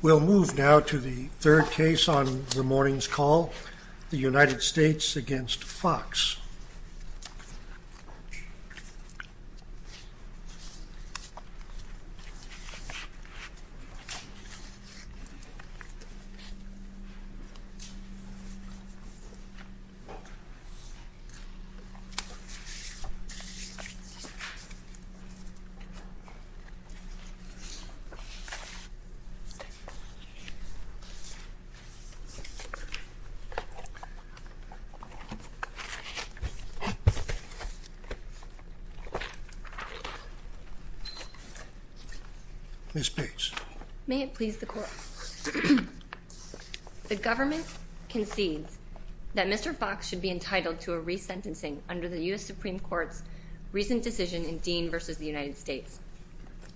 We'll move now to the third case on the morning's call, the United States v. Fox. Ms. Bates. May it please the Court. The government concedes that Mr. Fox should be entitled to a resentencing under the U.S. Supreme Court's recent decision in Dean v. United States.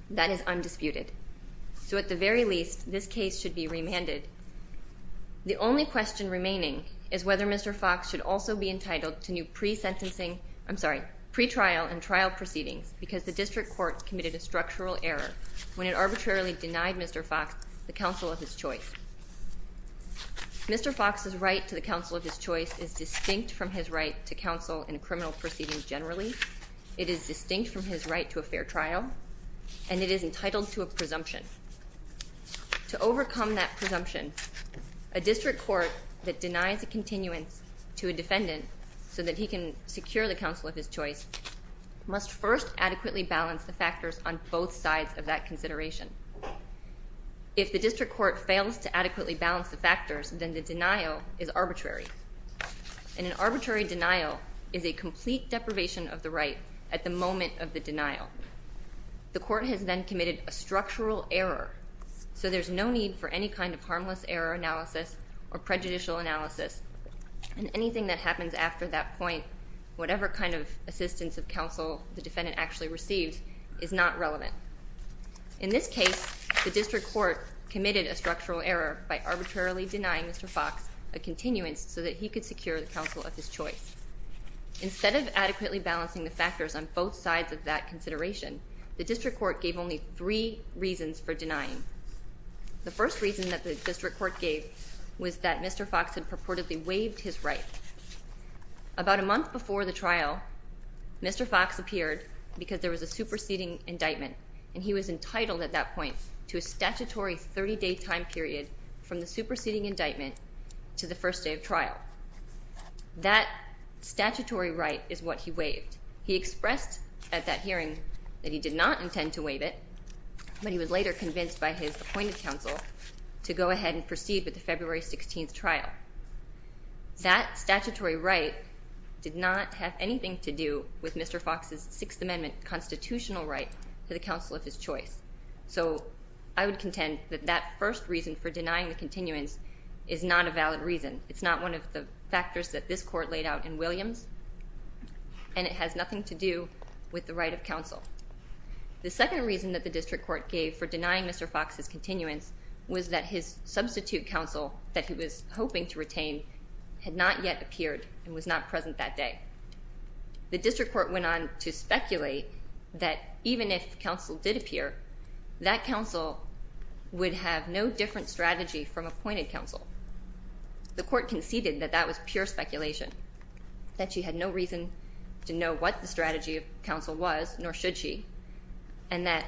That is undisputed. So at the very least, this case should be remanded. The only question remaining is whether Mr. Fox should also be entitled to new pretrial and trial proceedings because the district court committed a structural error when it arbitrarily denied Mr. Fox the counsel of his choice. Mr. Fox's right to the counsel of his choice is distinct from his right to counsel in a criminal proceeding generally. It is distinct from his right to a fair trial, and it is entitled to a presumption. To overcome that presumption, a district court that denies a continuance to a defendant so that he can secure the counsel of his choice must first adequately balance the factors on both sides of that consideration. If the district court fails to adequately balance the factors, then the denial is arbitrary. And an arbitrary denial is a complete deprivation of the right at the moment of the denial. The court has then committed a structural error, so there's no need for any kind of harmless error analysis or prejudicial analysis. And anything that happens after that point, whatever kind of assistance of counsel the defendant actually receives, is not relevant. In this case, the district court committed a structural error by arbitrarily denying Mr. Fox a continuance so that he could secure the counsel of his choice. Instead of adequately balancing the factors on both sides of that consideration, the district court gave only three reasons for denying. The first reason that the district court gave was that Mr. Fox had purportedly waived his right. About a month before the trial, Mr. Fox appeared because there was a superseding indictment, and he was entitled at that point to a statutory 30-day time period from the superseding indictment to the first day of trial. That statutory right is what he waived. He expressed at that hearing that he did not intend to waive it, but he was later convinced by his appointed counsel to go ahead and proceed with the February 16th trial. That statutory right did not have anything to do with Mr. Fox's Sixth Amendment constitutional right to the counsel of his choice. So I would contend that that first reason for denying the continuance is not a valid reason. It's not one of the factors that this court laid out in Williams, and it has nothing to do with the right of counsel. The second reason that the district court gave for denying Mr. Fox's continuance was that his substitute counsel that he was hoping to retain had not yet appeared and was not present that day. The district court went on to speculate that even if counsel did appear, that counsel would have no different strategy from appointed counsel. The court conceded that that was pure speculation, that she had no reason to know what the strategy of counsel was, nor should she, and that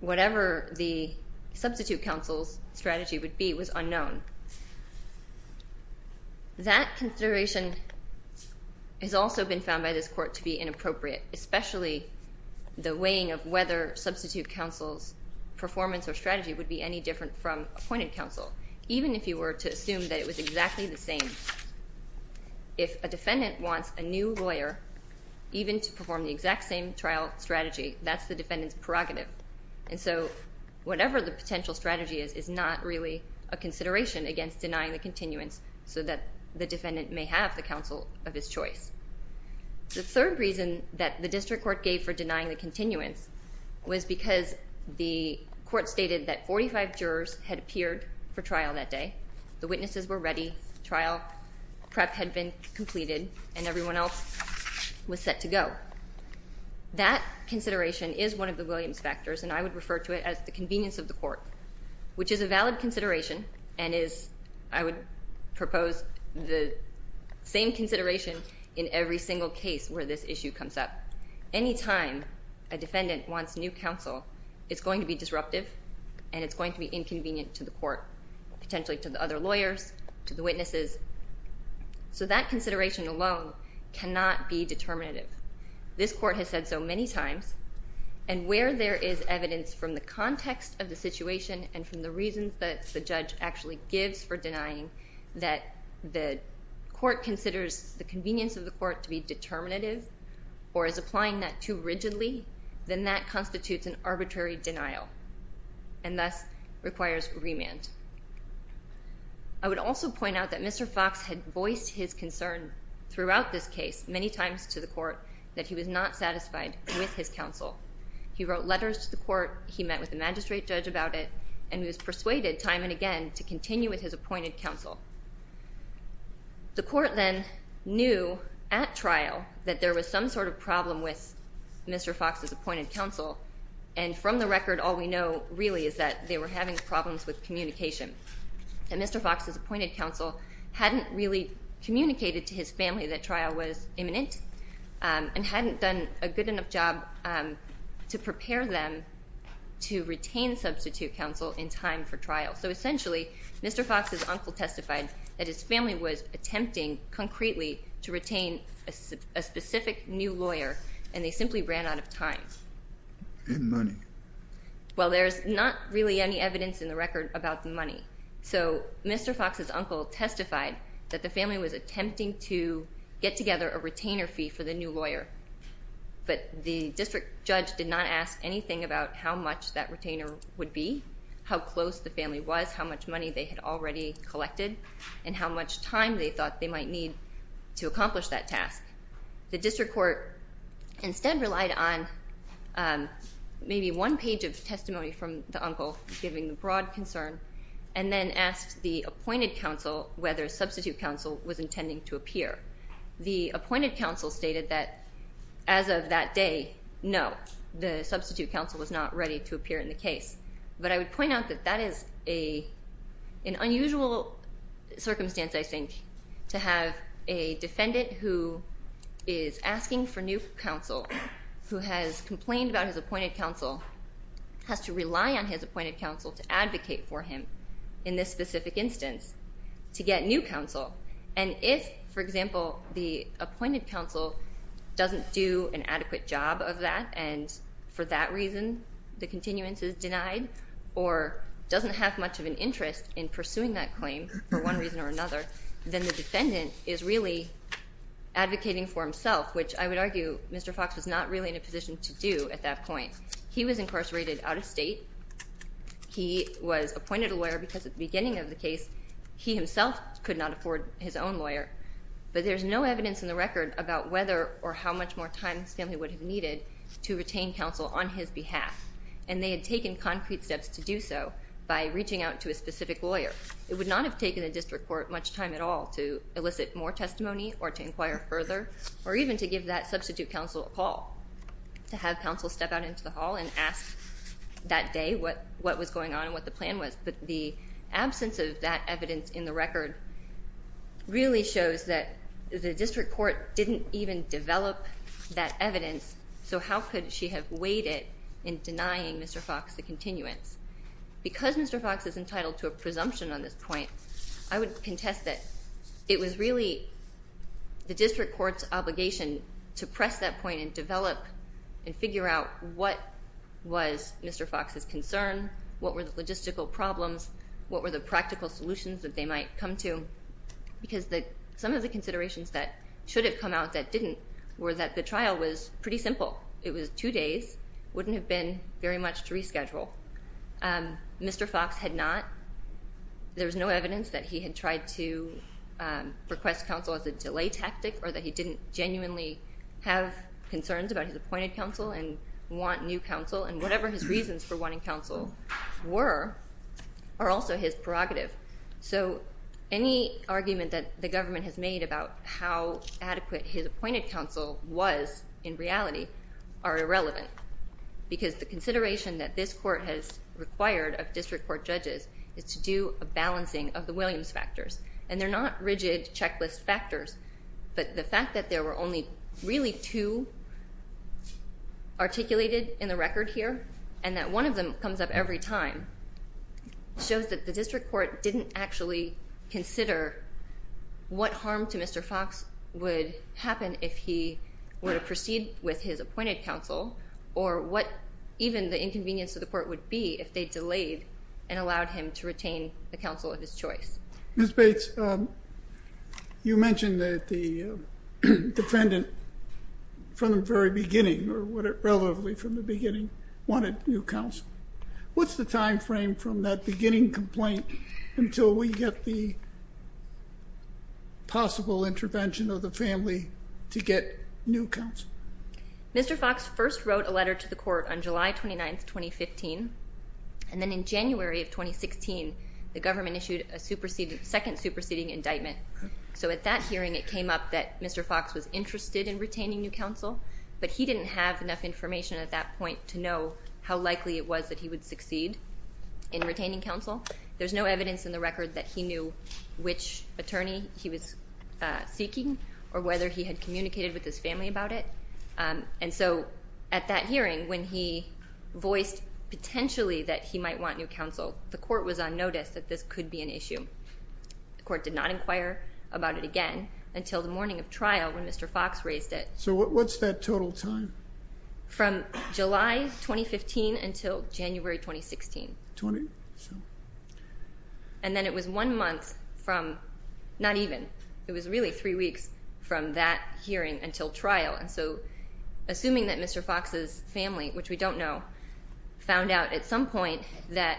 whatever the substitute counsel's strategy would be was unknown. That consideration has also been found by this court to be inappropriate, especially the weighing of whether substitute counsel's performance or strategy would be any different from appointed counsel, even if you were to assume that it was exactly the same. If a defendant wants a new lawyer, even to perform the exact same trial strategy, that's the defendant's prerogative. And so whatever the potential strategy is is not really a consideration against denying the continuance so that the defendant may have the counsel of his choice. The third reason that the district court gave for denying the continuance was because the court stated that 45 jurors had appeared for trial that day, the witnesses were ready, trial prep had been completed, and everyone else was set to go. That consideration is one of the Williams factors, and I would refer to it as the convenience of the court, which is a valid consideration and is, I would propose, the same consideration in every single case where this issue comes up. Any time a defendant wants new counsel, it's going to be disruptive, and it's going to be inconvenient to the court, potentially to the other lawyers, to the witnesses. So that consideration alone cannot be determinative. This court has said so many times, and where there is evidence from the context of the situation and from the reasons that the judge actually gives for denying that the court considers the convenience of the court to be determinative or is applying that too rigidly, then that constitutes an arbitrary denial and thus requires remand. I would also point out that Mr. Fox had voiced his concern throughout this case many times to the court that he was not satisfied with his counsel. He wrote letters to the court, he met with the magistrate judge about it, and he was persuaded time and again to continue with his appointed counsel. The court then knew at trial that there was some sort of problem with Mr. Fox's appointed counsel, and from the record all we know really is that they were having problems with communication. Mr. Fox's appointed counsel hadn't really communicated to his family that trial was imminent and hadn't done a good enough job to prepare them to retain substitute counsel in time for trial. So essentially, Mr. Fox's uncle testified that his family was attempting concretely to retain a specific new lawyer, and they simply ran out of time. And money. Well, there's not really any evidence in the record about the money. So Mr. Fox's uncle testified that the family was attempting to get together a retainer fee for the new lawyer, but the district judge did not ask anything about how much that retainer would be, how close the family was, how much money they had already collected, and how much time they thought they might need to accomplish that task. The district court instead relied on maybe one page of testimony from the uncle giving the broad concern and then asked the appointed counsel whether substitute counsel was intending to appear. The appointed counsel stated that as of that day, no, the substitute counsel was not ready to appear in the case. But I would point out that that is an unusual circumstance, I think, to have a defendant who is asking for new counsel, who has complained about his appointed counsel, has to rely on his appointed counsel to advocate for him in this specific instance to get new counsel. And if, for example, the appointed counsel doesn't do an adequate job of that and for that reason the continuance is denied or doesn't have much of an interest in pursuing that claim for one reason or another, then the defendant is really advocating for himself, which I would argue Mr. Fox was not really in a position to do at that point. He was incarcerated out of state. He was appointed a lawyer because at the beginning of the case he himself could not afford his own lawyer. But there's no evidence in the record about whether or how much more time his family would have needed to retain counsel on his behalf. And they had taken concrete steps to do so by reaching out to a specific lawyer. It would not have taken the district court much time at all to elicit more testimony or to inquire further or even to give that substitute counsel a call, to have counsel step out into the hall and ask that day what was going on and what the plan was. But the absence of that evidence in the record really shows that the district court didn't even develop that evidence, so how could she have waited in denying Mr. Fox the continuance? Because Mr. Fox is entitled to a presumption on this point, I would contest that it was really the district court's obligation to press that point and develop and figure out what was Mr. Fox's concern, what were the logistical problems, what were the practical solutions that they might come to, because some of the considerations that should have come out that didn't were that the trial was pretty simple. It was two days. It wouldn't have been very much to reschedule. Mr. Fox had not. There was no evidence that he had tried to request counsel as a delay tactic or that he didn't genuinely have concerns about his appointed counsel and want new counsel, and whatever his reasons for wanting counsel were are also his prerogative. So any argument that the government has made about how adequate his appointed counsel was in reality are irrelevant, because the consideration that this court has required of district court judges is to do a balancing of the Williams factors, and they're not rigid checklist factors, but the fact that there were only really two articulated in the record here and that one of them comes up every time shows that the district court didn't actually consider what harm to Mr. Fox would happen if he were to proceed with his appointed counsel or what even the inconvenience to the court would be if they delayed and allowed him to retain the counsel of his choice. Ms. Bates, you mentioned that the defendant from the very beginning, or relatively from the beginning, wanted new counsel. What's the time frame from that beginning complaint until we get the possible intervention of the family to get new counsel? Mr. Fox first wrote a letter to the court on July 29, 2015, and then in January of 2016, the government issued a second superseding indictment. So at that hearing, it came up that Mr. Fox was interested in retaining new counsel, but he didn't have enough information at that point to know how likely it was that he would succeed in retaining counsel. There's no evidence in the record that he knew which attorney he was seeking or whether he had communicated with his family about it. And so at that hearing, when he voiced potentially that he might want new counsel, the court was on notice that this could be an issue. The court did not inquire about it again until the morning of trial when Mr. Fox raised it. So what's that total time? From July 2015 until January 2016. Twenty-something. And then it was one month from, not even, it was really three weeks from that hearing until trial. And so assuming that Mr. Fox's family, which we don't know, found out at some point that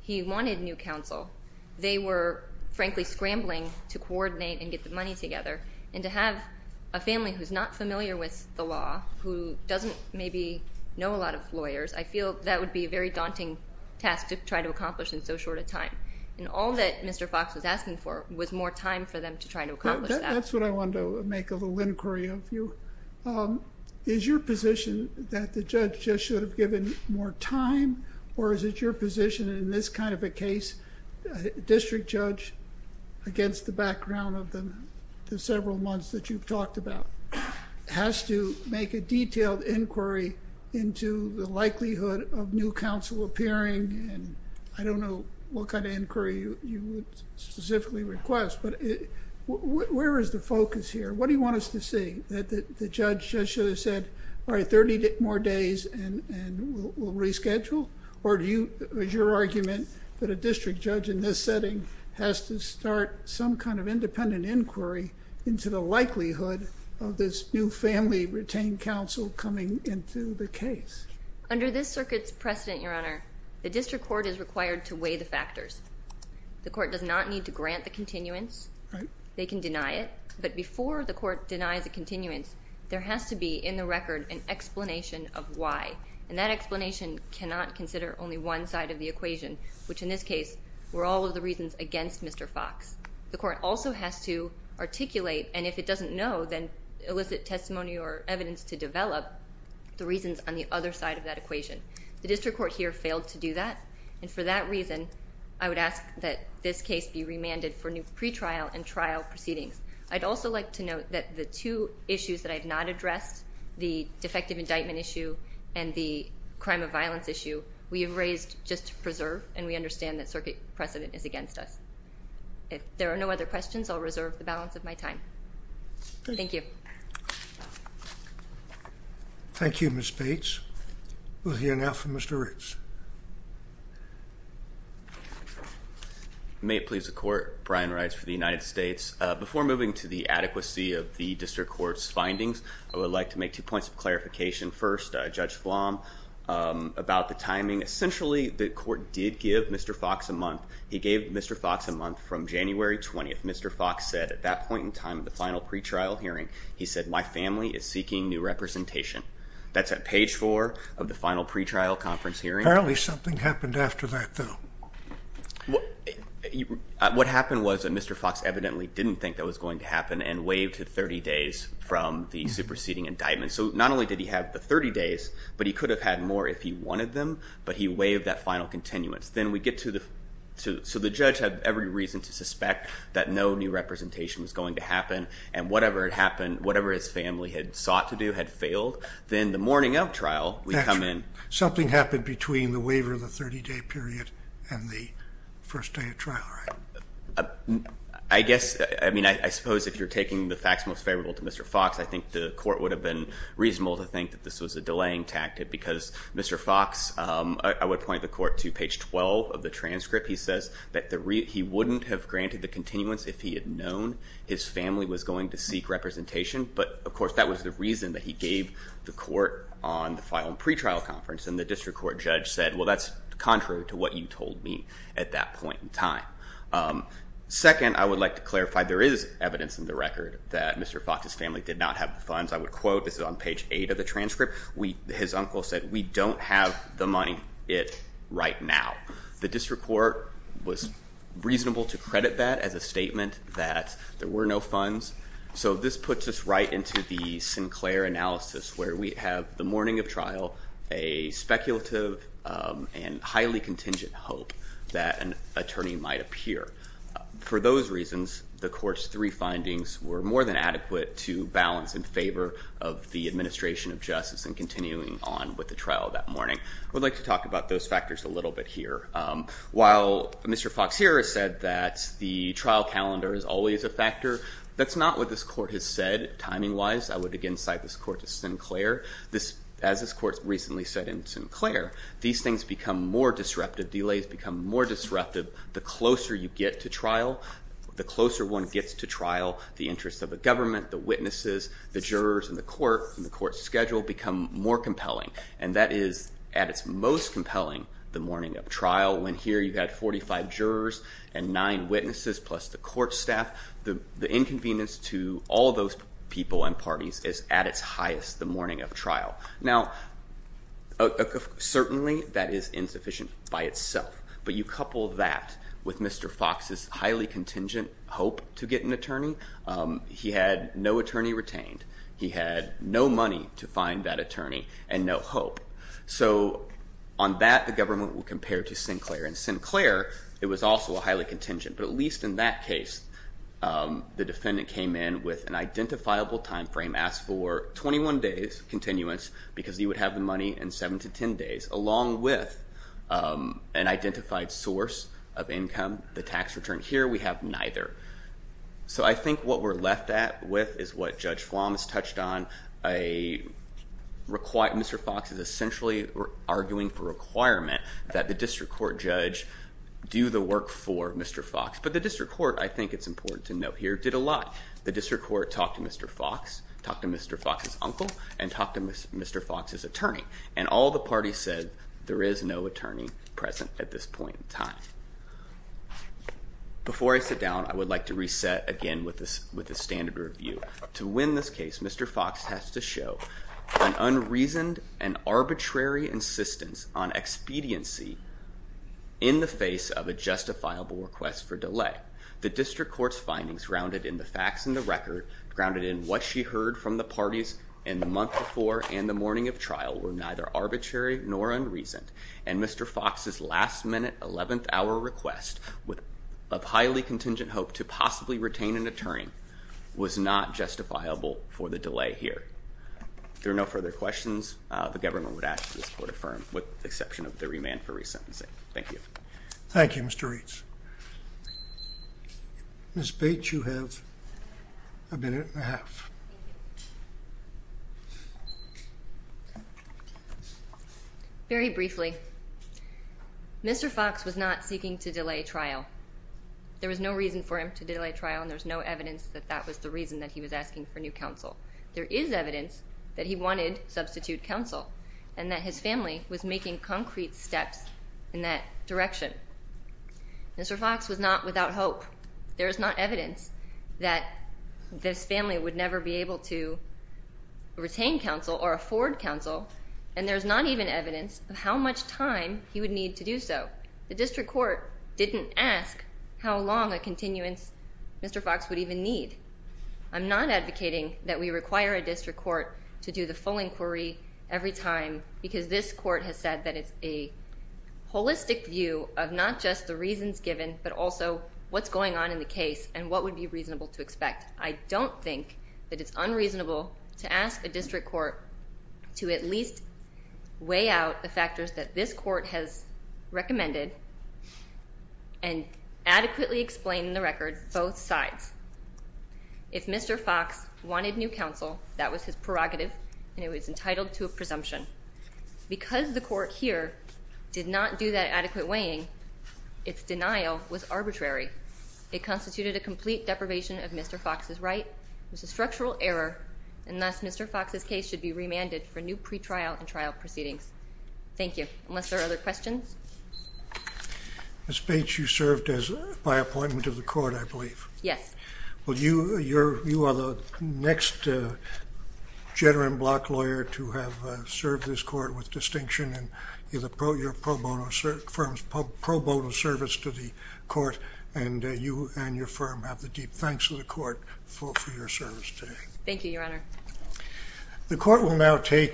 he wanted new counsel, they were frankly scrambling to coordinate and get the money together. And to have a family who's not familiar with the law, who doesn't maybe know a lot of lawyers, I feel that would be a very daunting task to try to accomplish in so short a time. And all that Mr. Fox was asking for was more time for them to try to accomplish that. That's what I wanted to make a little inquiry of you. Is your position that the judge just should have given more time, or is it your position in this kind of a case, a district judge against the background of the several months that you've talked about, has to make a detailed inquiry into the likelihood of new counsel appearing? And I don't know what kind of inquiry you would specifically request, but where is the focus here? What do you want us to see? That the judge just should have said, all right, 30 more days and we'll reschedule? Or is your argument that a district judge in this setting has to start some kind of independent inquiry into the likelihood of this new family retained counsel coming into the case? Under this circuit's precedent, Your Honor, the district court is required to weigh the factors. The court does not need to grant the continuance. They can deny it. But before the court denies the continuance, there has to be in the record an explanation of why. And that explanation cannot consider only one side of the equation, which in this case were all of the reasons against Mr. Fox. The court also has to articulate, and if it doesn't know, then elicit testimony or evidence to develop the reasons on the other side of that equation. The district court here failed to do that, and for that reason, I would ask that this case be remanded for new pretrial and trial proceedings. I'd also like to note that the two issues that I've not addressed, the defective indictment issue and the crime of violence issue, we have raised just to preserve and we understand that circuit precedent is against us. If there are no other questions, I'll reserve the balance of my time. Thank you. Thank you, Ms. Bates. We'll hear now from Mr. Ritz. May it please the court. Brian Ritz for the United States. Before moving to the adequacy of the district court's findings, I would like to make two points of clarification. First, Judge Flom, about the timing. Essentially, the court did give Mr. Fox a month. He gave Mr. Fox a month from January 20th. Mr. Fox said at that point in time, the final pretrial hearing, he said my family is seeking new representation. That's at page four of the final pretrial conference hearing. Apparently something happened after that, though. What happened was that Mr. Fox evidently didn't think that was going to happen and waived to 30 days from the superseding indictment. So not only did he have the 30 days, but he could have had more if he wanted them, but he waived that final continuance. So the judge had every reason to suspect that no new representation was going to happen and whatever had happened, whatever his family had sought to do had failed. Then the morning of trial, we come in. Something happened between the waiver of the 30-day period and the first day of trial, right? I guess, I mean, I suppose if you're taking the facts most favorable to Mr. Fox, I think the court would have been reasonable to think that this was a delaying tactic because Mr. Fox, I would point the court to page 12 of the transcript. He says that he wouldn't have granted the continuance if he had known his family was going to seek representation, but of course that was the reason that he gave the court on the final pretrial conference and the district court judge said, well, that's contrary to what you told me at that point in time. Second, I would like to clarify there is evidence in the record that Mr. Fox's family did not have the funds. I would quote, this is on page 8 of the transcript, his uncle said, we don't have the money yet right now. The district court was reasonable to credit that as a statement that there were no funds. So this puts us right into the Sinclair analysis where we have the morning of trial a speculative and highly contingent hope that an attorney might appear. For those reasons, the court's three findings were more than adequate to balance in favor of the administration of justice and continuing on with the trial that morning. I would like to talk about those factors a little bit here. While Mr. Fox here has said that the trial calendar is always a factor, that's not what this court has said timing-wise. I would again cite this court to Sinclair. As this court recently said in Sinclair, these things become more disruptive. Delays become more disruptive the closer you get to trial. The closer one gets to trial, the interest of the government, the witnesses, the jurors in the court and the court schedule become more compelling and that is at its most compelling the morning of trial when here you've got 45 jurors and nine witnesses plus the court staff. The inconvenience to all those people and parties is at its highest the morning of trial. Now, certainly that is insufficient by itself, but you couple that with Mr. Fox's highly contingent hope to get an attorney. He had no attorney retained. He had no money to find that attorney and no hope. So on that, the government will compare to Sinclair. In Sinclair, it was also a highly contingent, but at least in that case, the defendant came in with an identifiable time frame, asked for 21 days continuance because he would have the money in 7 to 10 days, along with an identified source of income, the tax return. Here we have neither. So I think what we're left with is what Judge Flom has touched on. Mr. Fox is essentially arguing for requirement that the district court judge do the work for Mr. Fox, but the district court, I think it's important to note here, did a lot. The district court talked to Mr. Fox, talked to Mr. Fox's uncle, and talked to Mr. Fox's attorney, and all the parties said there is no attorney present at this point in time. Before I sit down, I would like to reset again with the standard review. To win this case, Mr. Fox has to show an unreasoned and arbitrary insistence on expediency in the face of a justifiable request for delay. The district court's findings grounded in the facts in the record, grounded in what she heard from the parties in the month before and the morning of trial, were neither arbitrary nor unreasoned. And Mr. Fox's last-minute, 11th-hour request of highly contingent hope to possibly retain an attorney was not justifiable for the delay here. If there are no further questions, the government would ask that this court affirm, with the exception of the remand for resentencing. Thank you. Thank you, Mr. Reitz. Ms. Bates, you have a minute and a half. Thank you. Very briefly, Mr. Fox was not seeking to delay trial. There was no reason for him to delay trial, and there's no evidence that that was the reason that he was asking for new counsel. There is evidence that he wanted substitute counsel and that his family was making concrete steps in that direction. Mr. Fox was not without hope. There is not evidence that this family would never be able to retain counsel or afford counsel, and there's not even evidence of how much time he would need to do so. The district court didn't ask how long a continuance Mr. Fox would even need. I'm not advocating that we require a district court to do the full inquiry every time because this court has said that it's a holistic view of not just the reasons given but also what's going on in the case and what would be reasonable to expect. I don't think that it's unreasonable to ask a district court to at least weigh out the factors that this court has recommended and adequately explain in the record both sides. If Mr. Fox wanted new counsel, that was his prerogative, and he was entitled to a presumption. Because the court here did not do that adequate weighing, its denial was arbitrary. It constituted a complete deprivation of Mr. Fox's right. It was a structural error, and thus Mr. Fox's case should be remanded for new pretrial and trial proceedings. Thank you. Unless there are other questions? Ms. Bates, you served by appointment of the court, I believe. Yes. Well, you are the next Jedder and Block lawyer to have served this court with distinction and your firm's pro bono service to the court, and you and your firm have the deep thanks of the court for your service today. Thank you, Your Honor. The court will now take...